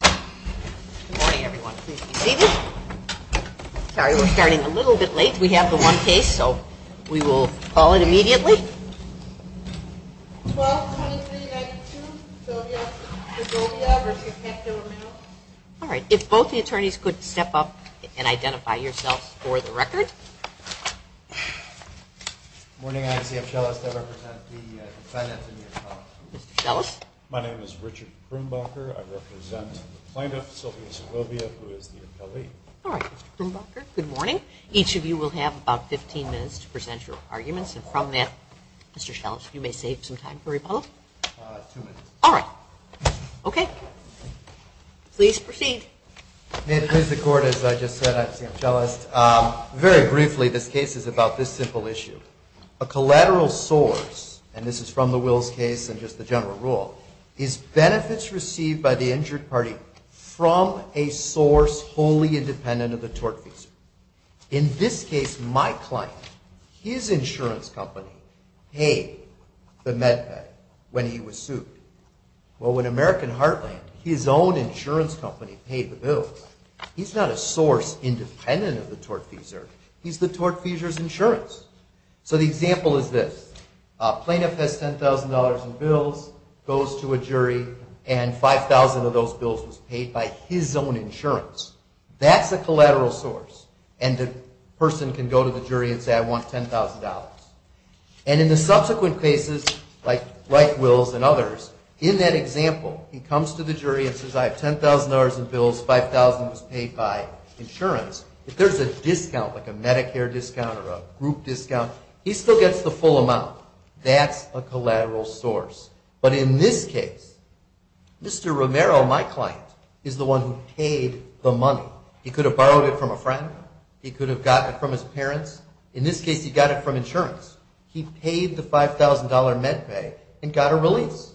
Good morning, everyone. Please be seated. Sorry, we're starting a little bit late. We have the one case, so we will call it immediately. 122392, Segovia v. Romero. All right. If both the attorneys could step up and identify yourselves for the record. Good morning. I'm C.F. Schellis. I represent the defendant in your trial. Mr. Schellis. My name is Richard Krumbacher. I represent the plaintiff, Sylvia Segovia, who is the appellee. All right, Mr. Krumbacher. Good morning. Each of you will have about 15 minutes to present your arguments. And from that, Mr. Schellis, you may save some time for rebuttal. Two minutes. All right. Okay. Please proceed. May it please the Court, as I just said, I'm C.F. Schellis. Very briefly, this case is about this simple issue. A collateral source, and this is from the Wills case and just the general rule, is benefits received by the injured party from a source wholly independent of the tortfeasor. In this case, my client, his insurance company paid the med pay when he was sued. Well, when American Heartland, his own insurance company, paid the bill, he's not a source independent of the tortfeasor. He's the tortfeasor's insurance. So the example is this. A plaintiff has $10,000 in bills, goes to a jury, and $5,000 of those bills was paid by his own insurance. That's a collateral source. And the person can go to the jury and say, I want $10,000. And in the subsequent cases, like Wills and others, in that example, he comes to the jury and says, I have $10,000 in bills, $5,000 was paid by insurance. If there's a discount, like a Medicare discount or a group discount, he still gets the full amount. That's a collateral source. But in this case, Mr. Romero, my client, is the one who paid the money. He could have borrowed it from a friend. He could have gotten it from his parents. In this case, he got it from insurance. He paid the $5,000 med pay and got a release.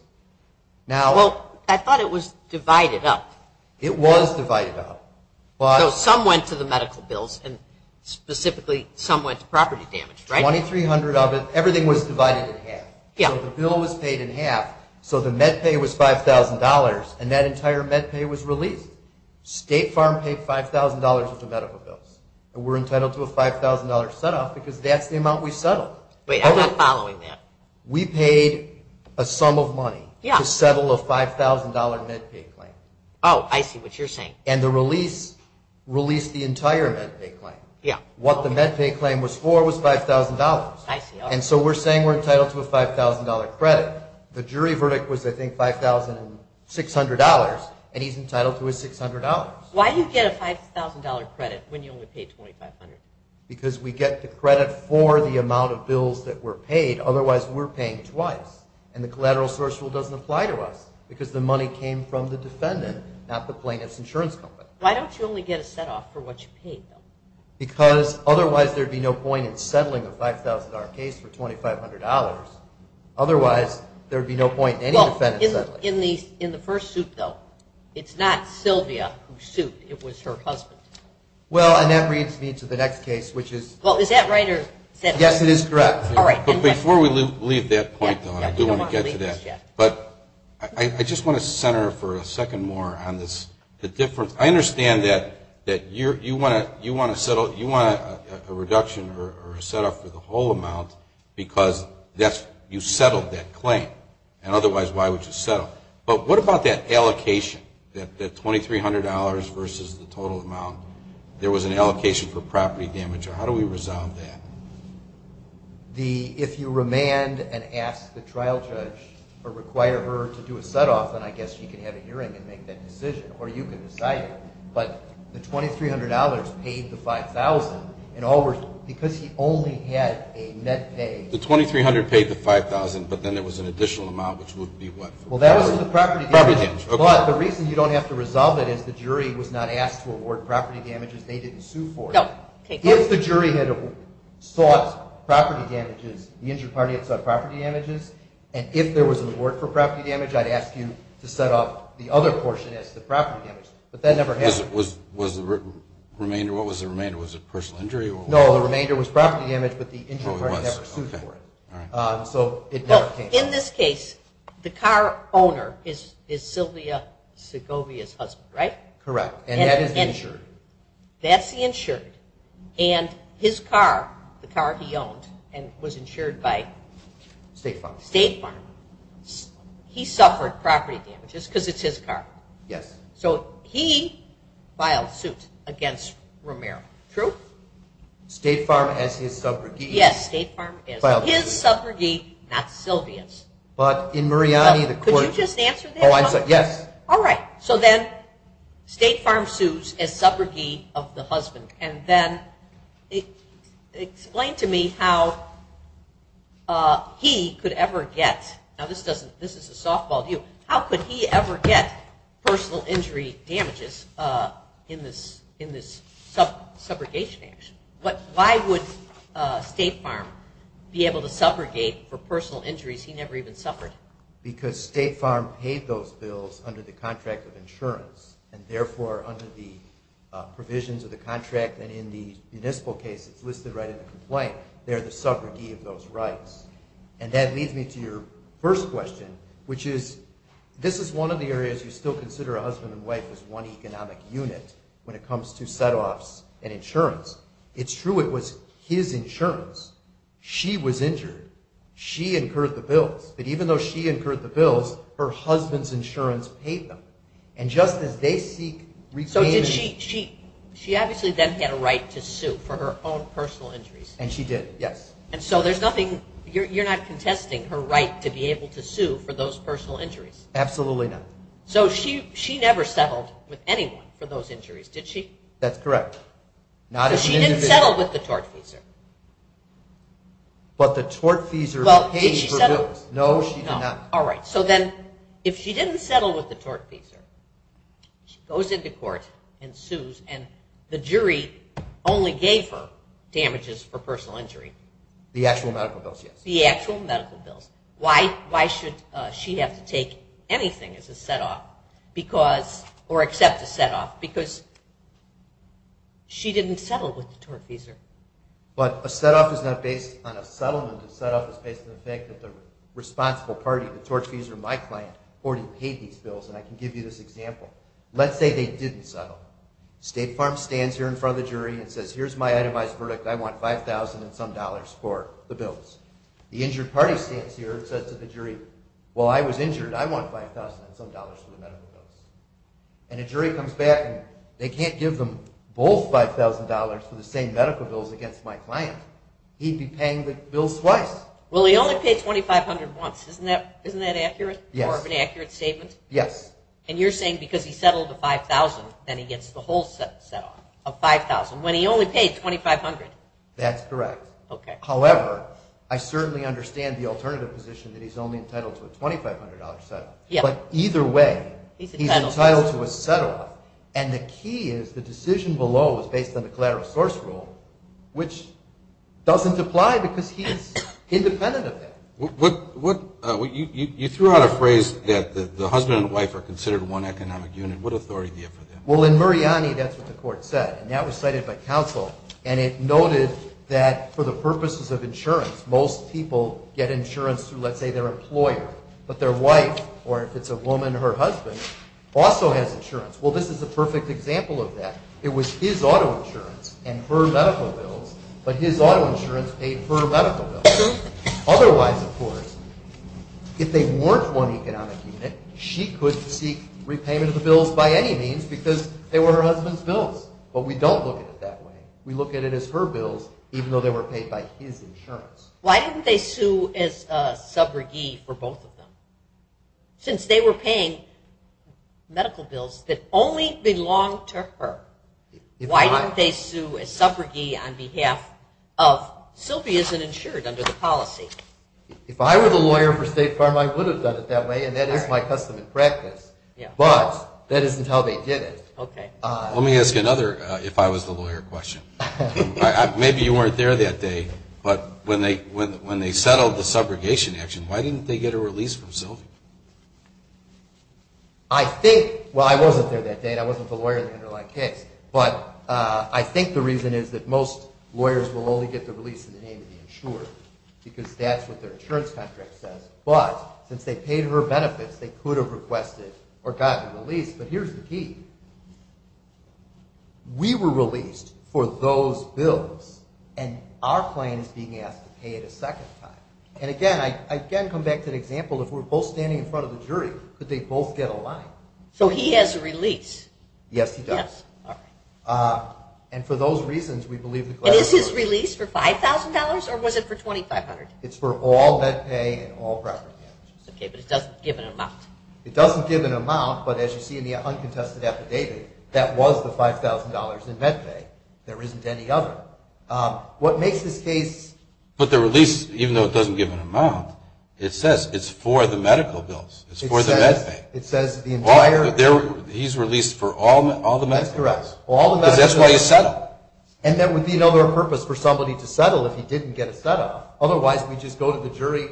Well, I thought it was divided up. It was divided up. So some went to the medical bills, and specifically some went to property damage, right? 2,300 of it. Everything was divided in half. So the bill was paid in half, so the med pay was $5,000, and that entire med pay was released. State Farm paid $5,000 of the medical bills. And we're entitled to a $5,000 set-off because that's the amount we settled. Wait, I'm not following that. We paid a sum of money to settle a $5,000 med pay claim. Oh, I see what you're saying. And the release released the entire med pay claim. Yeah. What the med pay claim was for was $5,000. I see. And so we're saying we're entitled to a $5,000 credit. The jury verdict was, I think, $5,600, and he's entitled to his $600. Why do you get a $5,000 credit when you only paid $2,500? Because we get the credit for the amount of bills that were paid. Otherwise, we're paying twice, and the collateral source rule doesn't apply to us because the money came from the defendant, not the plaintiff's insurance company. Why don't you only get a set-off for what you paid, though? Because otherwise there would be no point in settling a $5,000 case for $2,500. Otherwise, there would be no point in any defendant settling. In the first suit, though, it's not Sylvia who sued. It was her husband. Well, and that brings me to the next case, which is... Well, is that right or is that... Yes, it is correct. All right. But before we leave that point, though, I do want to get to that. But I just want to center for a second more on the difference. I understand that you want a reduction or a set-off for the whole amount because you settled that claim, and otherwise why would you settle? But what about that allocation, that $2,300 versus the total amount? There was an allocation for property damage. How do we resolve that? If you remand and ask the trial judge or require her to do a set-off, then I guess she can have a hearing and make that decision, or you can decide it. But the $2,300 paid the $5,000. In other words, because he only had a net pay... The $2,300 paid the $5,000, but then there was an additional amount, which would be what? Well, that was the property damage. Property damage, okay. But the reason you don't have to resolve it is the jury was not asked to award property damages. They didn't sue for it. No. If the jury had sought property damages, the injured party had sought property damages, and if there was an award for property damage, I'd ask you to set off the other portion as the property damage. But that never happened. Was the remainder... What was the remainder? Was it personal injury? No, the remainder was property damage, but the injured party never sued for it. Oh, it was. Okay. In this case, the car owner is Sylvia Segovia's husband, right? Correct, and that is the insured. That's the insured, and his car, the car he owned and was insured by... State Farm. State Farm. He suffered property damages because it's his car. Yes. So he filed suit against Romero. True? State Farm as his subrogate. Yes, State Farm. State Farm as his subrogate, not Sylvia's. But in Mariani, the court... Could you just answer that? Oh, I'm sorry. Yes. All right. So then State Farm sues as subrogate of the husband, and then explain to me how he could ever get... Now, this is a softball view. How could he ever get personal injury damages in this subrogation action? Why would State Farm be able to subrogate for personal injuries he never even suffered? Because State Farm paid those bills under the contract of insurance, and therefore under the provisions of the contract, and in the municipal case that's listed right in the complaint, they're the subrogate of those rights. And that leads me to your first question, when it comes to setoffs and insurance. It's true it was his insurance. She was injured. She incurred the bills. But even though she incurred the bills, her husband's insurance paid them. And just as they seek... So did she... She obviously then had a right to sue for her own personal injuries. And she did, yes. And so there's nothing... You're not contesting her right to be able to sue for those personal injuries? Absolutely not. So she never settled with anyone for those injuries, did she? That's correct. Not as an individual. So she didn't settle with the tortfeasor? But the tortfeasor paid for those. Did she settle? No, she did not. All right. So then if she didn't settle with the tortfeasor, she goes into court and sues, and the jury only gave her damages for personal injury. The actual medical bills, yes. The actual medical bills. Why should she have to take anything as a set-off or accept a set-off? Because she didn't settle with the tortfeasor. But a set-off is not based on a settlement. A set-off is based on the fact that the responsible party, the tortfeasor, my client, already paid these bills. And I can give you this example. Let's say they didn't settle. State Farm stands here in front of the jury and says, here's my itemized verdict. I want $5,000 and some dollars for the bills. The injured party stands here and says to the jury, well, I was injured. I want $5,000 and some dollars for the medical bills. And a jury comes back, and they can't give them both $5,000 for the same medical bills against my client. He'd be paying the bills twice. Well, he only paid $2,500 once. Isn't that accurate? Yes. More of an accurate statement? Yes. And you're saying because he settled the $5,000, then he gets the whole set-off of $5,000 when he only paid $2,500. That's correct. Okay. However, I certainly understand the alternative position that he's only entitled to a $2,500 set-off. Yes. But either way, he's entitled to a set-off. And the key is the decision below is based on the collateral source rule, which doesn't apply because he is independent of that. You threw out a phrase that the husband and wife are considered one economic unit. What authority do you have for that? Well, in Muriani, that's what the court said. And that was cited by counsel. And it noted that for the purposes of insurance, most people get insurance through, let's say, their employer. But their wife, or if it's a woman, her husband, also has insurance. Well, this is a perfect example of that. It was his auto insurance and her medical bills, but his auto insurance paid for her medical bills. Otherwise, of course, if they weren't one economic unit, she couldn't seek repayment of the bills by any means because they were her husband's bills. But we don't look at it that way. We look at it as her bills, even though they were paid by his insurance. Why didn't they sue as a subrogee for both of them? Since they were paying medical bills that only belonged to her, why didn't they sue as subrogee on behalf of Sylvie as an insured under the policy? If I were the lawyer for State Farm, I would have done it that way, and that is my custom and practice. But that isn't how they did it. Let me ask another if I was the lawyer question. Maybe you weren't there that day, but when they settled the subrogation action, why didn't they get a release from Sylvie? Well, I wasn't there that day, and I wasn't the lawyer in the underlying case. But I think the reason is that most lawyers will only get the release in the name of the insured because that's what their insurance contract says. But since they paid her benefits, they could have requested or gotten a release. But here's the key. We were released for those bills, and our claim is being asked to pay it a second time. And again, I again come back to the example, if we're both standing in front of the jury, could they both get a line? So he has a release. Yes, he does. And for those reasons, we believe the claim is true. And is his release for $5,000, or was it for $2,500? It's for all net pay and all property damages. Okay, but it doesn't give an amount. It doesn't give an amount, but as you see in the uncontested affidavit, that was the $5,000 in net pay. There isn't any other. What makes this case... But the release, even though it doesn't give an amount, it says it's for the medical bills. It's for the net pay. It says the entire... He's released for all the medical bills. That's correct. Because that's why he settled. And that would be another purpose for somebody to settle if he didn't get a set up. Otherwise, we'd just go to the jury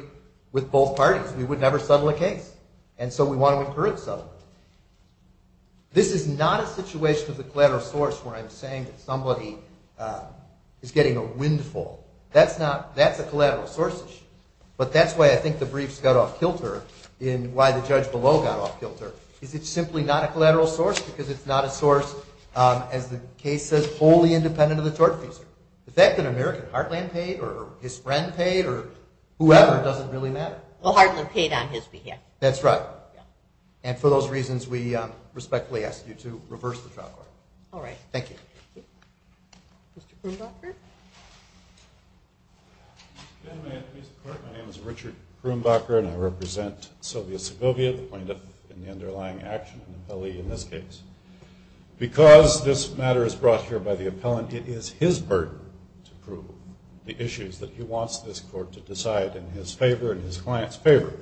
with both parties. We would never settle a case. And so we want to incur a settlement. This is not a situation of the collateral source where I'm saying that somebody is getting a windfall. That's a collateral source issue. But that's why I think the briefs got off kilter, and why the judge below got off kilter, is it's simply not a collateral source because it's not a source, as the case says, wholly independent of the tortfeasor. The fact that American Heartland paid, or his friend paid, or whoever, doesn't really matter. Well, Heartland paid on his behalf. That's right. And for those reasons, we respectfully ask you to reverse the trial court. All right. Thank you. Thank you. Mr. Krumbacher? Good afternoon, Mr. Court. My name is Richard Krumbacher, and I represent Sylvia Segovia, the plaintiff in the underlying action and the appellee in this case. Because this matter is brought here by the appellant, it is his burden to prove the issues that he wants this court to decide in his favor and his client's favor.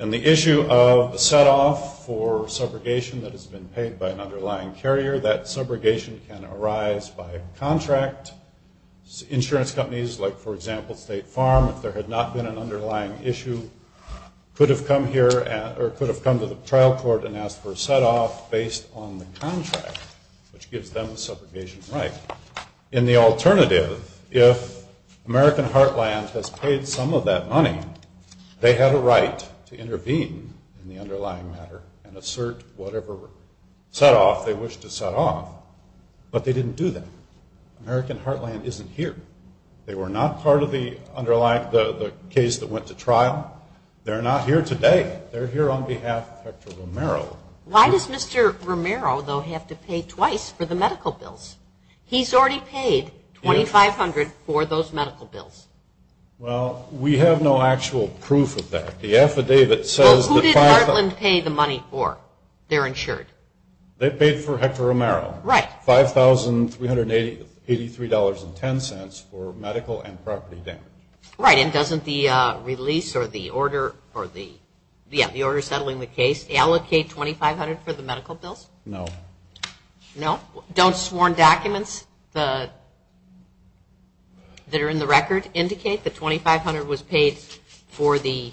And the issue of the setoff for subrogation that has been paid by an underlying carrier, that subrogation can arise by contract. Insurance companies, like, for example, State Farm, if there had not been an underlying issue, could have come here or could have come to the trial court and asked for a setoff based on the contract, which gives them the subrogation right. In the alternative, if American Heartland has paid some of that money, they have a right to intervene in the underlying matter and assert whatever setoff they wish to setoff. But they didn't do that. American Heartland isn't here. They were not part of the underlying case that went to trial. They're not here today. They're here on behalf of Hector Romero. Why does Mr. Romero, though, have to pay twice for the medical bills? He's already paid $2,500 for those medical bills. Well, we have no actual proof of that. The affidavit says that 5,000. Well, who did Heartland pay the money for? They're insured. They paid for Hector Romero. Right. $5,383.10 for medical and property damage. Right. And doesn't the release or the order or the, yeah, the order settling the case allocate $2,500 for the medical bills? No. No? Don't sworn documents that are in the record indicate that $2,500 was paid for the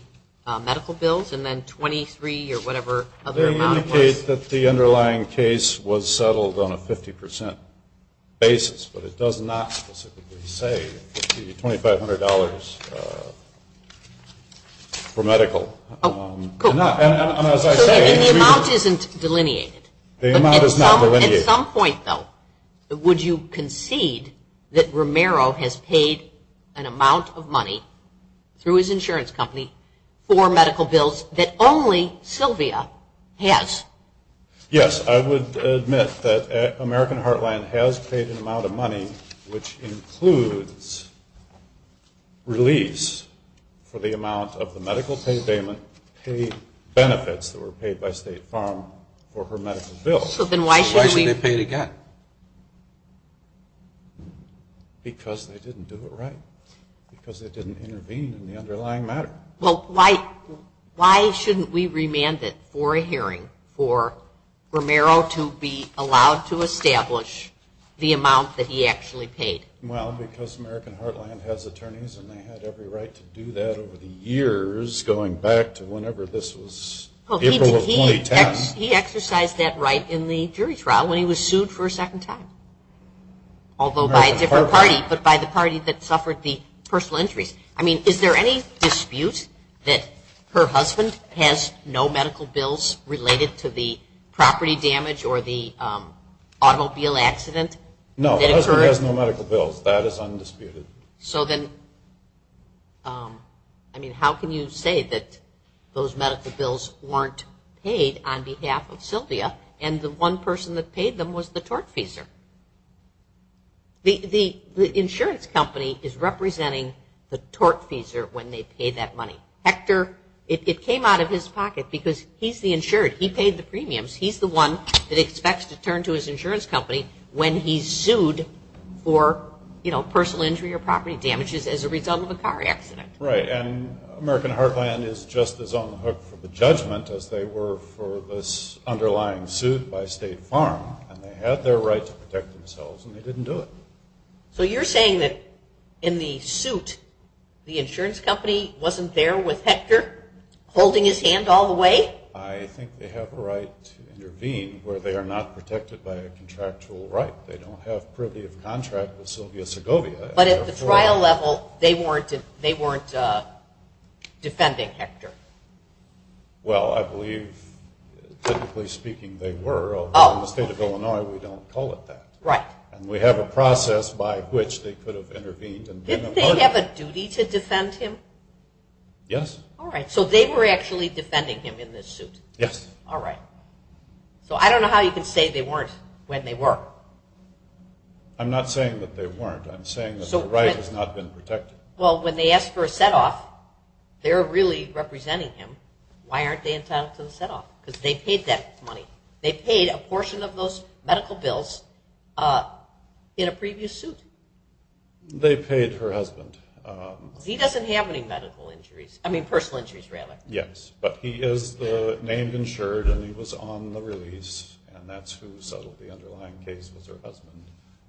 medical bills and then $2,300 or whatever other amount was? They indicate that the underlying case was settled on a 50% basis, but it does not specifically say $2,500 for medical. Oh, cool. And as I say, The amount is not delineated. At some point, though, would you concede that Romero has paid an amount of money through his insurance company for medical bills that only Sylvia has? Yes. I would admit that American Heartland has paid an amount of money, which includes release for the amount of the medical pay benefits that were paid by State Farm for her medical bills. So then why should they pay it again? Because they didn't do it right. Because they didn't intervene in the underlying matter. Well, why shouldn't we remand it for a hearing for Romero to be allowed to establish the amount that he actually paid? Well, because American Heartland has attorneys, and they had every right to do that over the years going back to whenever this was, April of 2010. He exercised that right in the jury trial when he was sued for a second time, although by a different party, but by the party that suffered the personal injuries. I mean, is there any dispute that her husband has no medical bills related to the property damage or the automobile accident? No, her husband has no medical bills. That is undisputed. So then, I mean, how can you say that those medical bills weren't paid on behalf of Sylvia, and the one person that paid them was the tortfeasor? The insurance company is representing the tortfeasor when they pay that money. Hector, it came out of his pocket because he's the insured. He paid the premiums. He's the one that expects to turn to his insurance company when he's sued for, you know, personal injury or property damages as a result of a car accident. Right, and American Heartland is just as on the hook for the judgment as they were for this underlying suit by State Farm, and they had their right to protect themselves, and they didn't do it. So you're saying that in the suit, the insurance company wasn't there with Hector holding his hand all the way? I think they have a right to intervene where they are not protected by a contractual right. They don't have privy of contract with Sylvia Segovia. But at the trial level, they weren't defending Hector? Well, I believe, typically speaking, they were. In the state of Illinois, we don't call it that. Right. And we have a process by which they could have intervened. Didn't they have a duty to defend him? Yes. All right. So they were actually defending him in this suit? Yes. All right. So I don't know how you can say they weren't when they were. I'm not saying that they weren't. I'm saying that the right has not been protected. Well, when they ask for a setoff, they're really representing him. Why aren't they entitled to the setoff? Because they paid that money. They paid a portion of those medical bills in a previous suit. They paid her husband. He doesn't have any medical injuries. I mean, personal injuries, rather. Yes. But he is the name insured, and he was on the release, and that's who settled the underlying case was her husband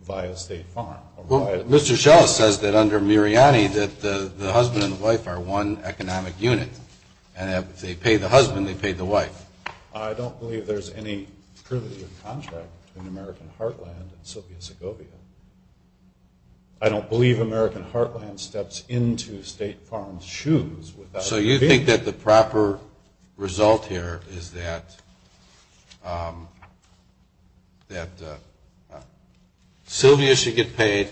via State Farm. Well, Mr. Schell says that under Miriani that the husband and the wife are one economic unit. And if they paid the husband, they paid the wife. I don't believe there's any privilege of contract between American Heartland and Sylvia Segovia. I don't believe American Heartland steps into State Farm's shoes. So you think that the proper result here is that Sylvia should get paid,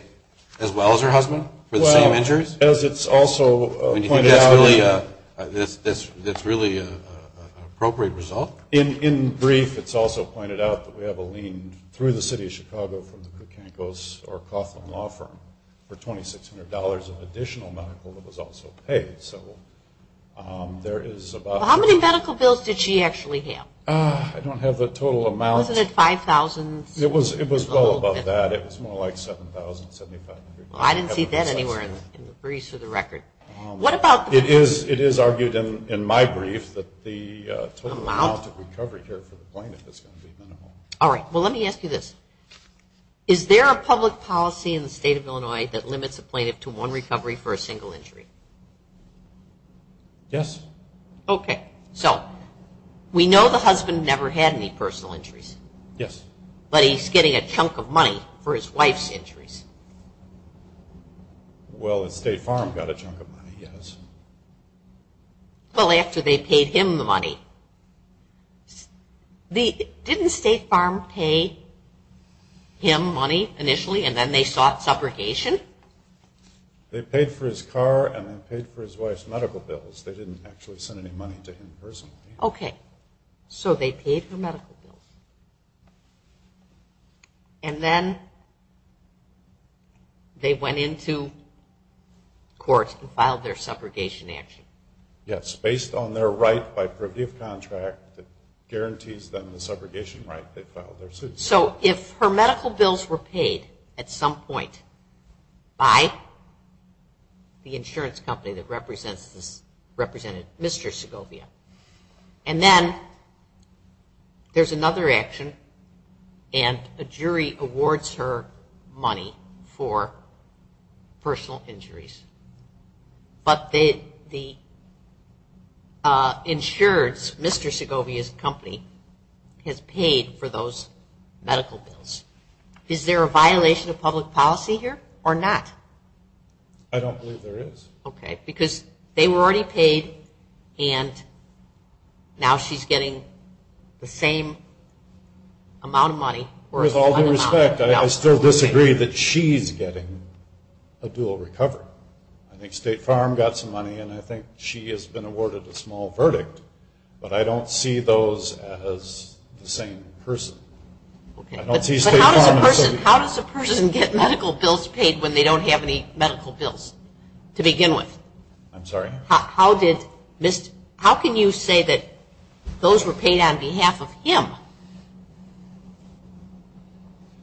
as well as her husband, for the same injuries? Well, as it's also pointed out. You think that's really an appropriate result? In brief, it's also pointed out that we have a lien through the city of Chicago from the Koukankos, or Coughlin Law Firm, for $2,600 of additional medical that was also paid. How many medical bills did she actually have? I don't have the total amount. Wasn't it 5,000? It was well above that. It was more like 7,000, 7,500. Well, I didn't see that anywhere in the briefs or the record. It is argued in my brief that the total amount of recovery care for the plaintiff is going to be minimal. All right. Well, let me ask you this. Is there a public policy in the state of Illinois that limits a plaintiff to one recovery for a single injury? Yes. Okay. So we know the husband never had any personal injuries. Yes. But he's getting a chunk of money for his wife's injuries. Well, State Farm got a chunk of money, yes. Well, after they paid him the money. Didn't State Farm pay him money initially and then they sought subrogation? They paid for his car and they paid for his wife's medical bills. They didn't actually send any money to him personally. Okay. So they paid for medical bills. And then they went into court and filed their subrogation action. Yes. It's based on their right by privative contract that guarantees them the subrogation right they filed their suit. So if her medical bills were paid at some point by the insurance company that represented Mr. Segovia, and then there's another action and a jury awards her money for personal injuries, but the insurance, Mr. Segovia's company, has paid for those medical bills, is there a violation of public policy here or not? I don't believe there is. Okay. Because they were already paid and now she's getting the same amount of money. With all due respect, I still disagree that she's getting a dual recovery. I think State Farm got some money and I think she has been awarded a small verdict, but I don't see those as the same person. I don't see State Farm as somebody. But how does a person get medical bills paid when they don't have any medical bills to begin with? I'm sorry? How can you say that those were paid on behalf of him?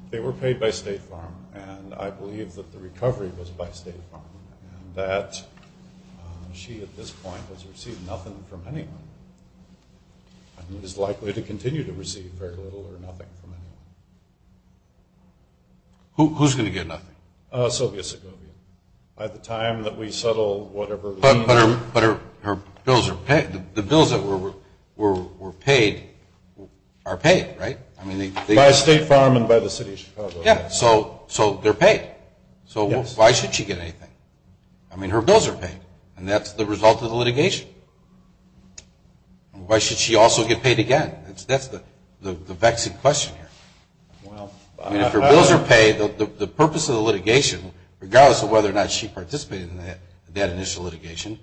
They were paid by State Farm and I believe that the recovery was by State Farm and that she at this point has received nothing from anyone and is likely to continue to receive very little or nothing from anyone. Who's going to get nothing? Sylvia Segovia. By the time that we settle whatever we need. But her bills are paid. The bills that were paid are paid, right? By State Farm and by the City of Chicago. Yeah, so they're paid. So why should she get anything? I mean, her bills are paid and that's the result of the litigation. Why should she also get paid again? That's the vexing question here. I mean, if her bills are paid, the purpose of the litigation, regardless of whether or not she participated in that initial litigation,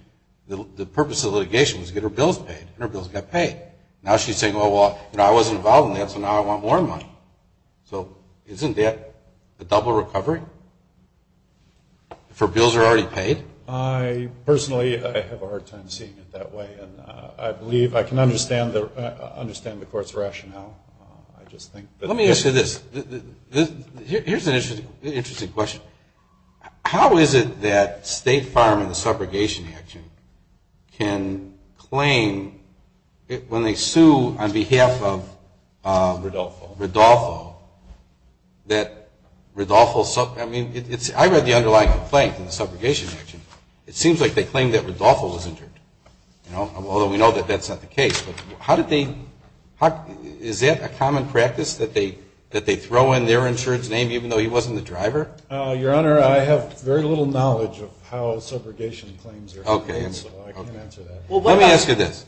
the purpose of the litigation was to get her bills paid and her bills got paid. Now she's saying, well, I wasn't involved in that so now I want more money. So isn't that a double recovery? If her bills are already paid? Personally, I have a hard time seeing it that way and I believe I can understand the court's rationale. Let me ask you this. Here's an interesting question. How is it that State Farm in the subrogation action can claim, when they sue on behalf of Rodolfo, that Rodolfo, I mean, I read the underlying complaint in the subrogation action. It seems like they claimed that Rodolfo was injured, although we know that that's not the case. Is that a common practice that they throw in their insurance name even though he wasn't the driver? Your Honor, I have very little knowledge of how subrogation claims are claimed, so I can't answer that. Let me ask you this.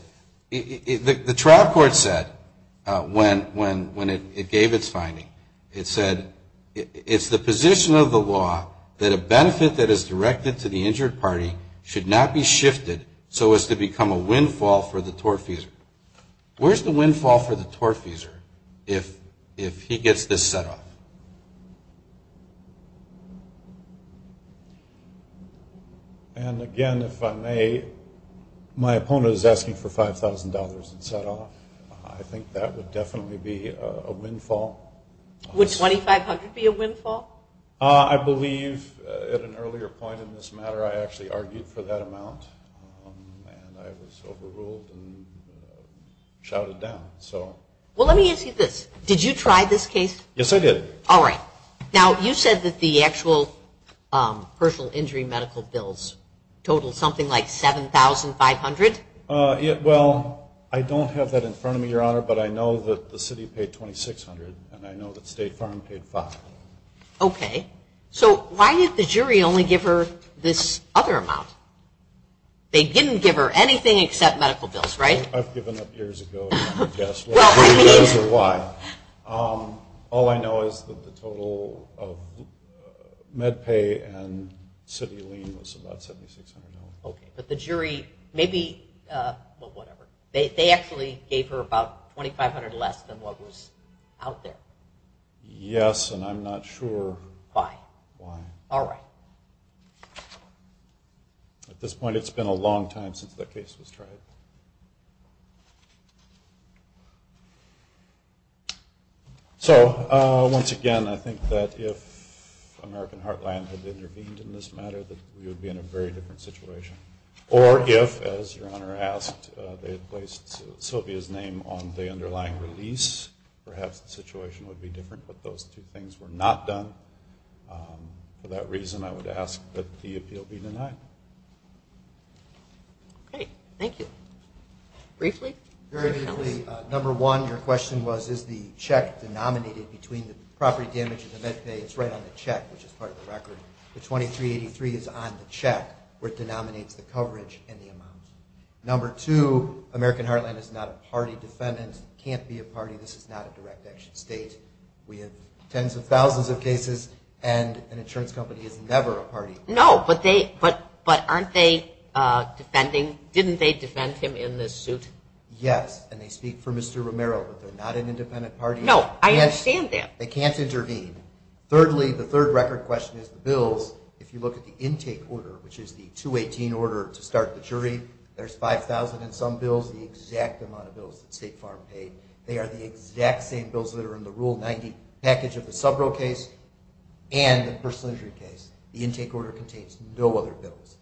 The trial court said when it gave its finding, it said, it's the position of the law that a benefit that is directed to the injured party should not be shifted so as to become a windfall for the tortfeasor. Where's the windfall for the tortfeasor if he gets this set off? Again, if I may, my opponent is asking for $5,000 in set off. I think that would definitely be a windfall. Would $2,500 be a windfall? I believe at an earlier point in this matter I actually argued for that amount, and I was overruled and shouted down. Well, let me ask you this. Did you try this case? Yes, I did. All right. Now, you said that the actual personal injury medical bills total something like $7,500? Well, I don't have that in front of me, Your Honor, but I know that the city paid $2,600 and I know that State Farm paid $5,000. Okay. So why did the jury only give her this other amount? They didn't give her anything except medical bills, right? I've given up years ago. I can't guess what it is or why. All I know is that the total of med pay and city lien was about $7,600. Okay. But the jury maybe they actually gave her about $2,500 less than what was out there. Yes, and I'm not sure why. All right. At this point, it's been a long time since that case was tried. So once again, I think that if American Heartland had intervened in this matter, that we would be in a very different situation. Or if, as Your Honor asked, they had placed Sylvia's name on the underlying release, perhaps the situation would be different. But those two things were not done. For that reason, I would ask that the appeal be denied. Okay. Thank you. Briefly? Very briefly. Number one, your question was, is the check denominated between the property damage and the med pay? It's right on the check, which is part of the record. The 2383 is on the check, which denominates the coverage and the amount. Number two, American Heartland is not a party defendant. It can't be a party. This is not a direct action state. We have tens of thousands of cases, and an insurance company is never a party. No, but aren't they defending? Didn't they defend him in this suit? Yes, and they speak for Mr. Romero, but they're not an independent party. No, I understand that. They can't intervene. Thirdly, the third record question is the bills. If you look at the intake order, which is the 218 order to start the jury, there's 5,000 in some bills, the exact amount of bills that State Farm paid. They are the exact same bills that are in the Rule 90 package of the Subro case and the personal injury case. The intake order contains no other bills.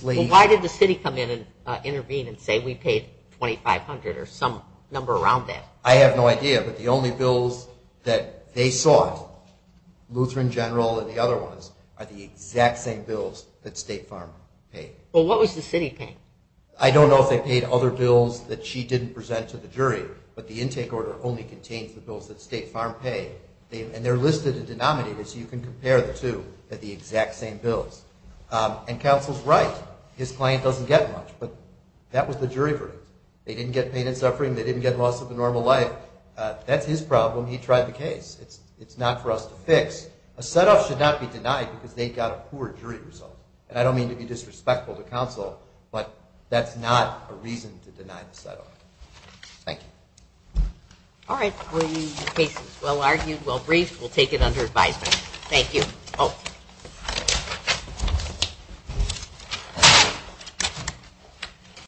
Well, why did the city come in and intervene and say we paid 2,500 or some number around that? I have no idea. But the only bills that they sought, Lutheran General and the other ones, are the exact same bills that State Farm paid. Well, what was the city paying? I don't know if they paid other bills that she didn't present to the jury, but the intake order only contains the bills that State Farm paid, and they're listed and denominated so you can compare the two at the exact same bills. And counsel's right. His client doesn't get much, but that was the jury verdict. They didn't get pain and suffering. They didn't get loss of a normal life. That's his problem. He tried the case. It's not for us to fix. A set-off should not be denied because they got a poor jury result. And I don't mean to be disrespectful to counsel, but that's not a reason to deny the set-off. Thank you. All right. The case is well-argued, well-briefed. We'll take it under advisement. Thank you.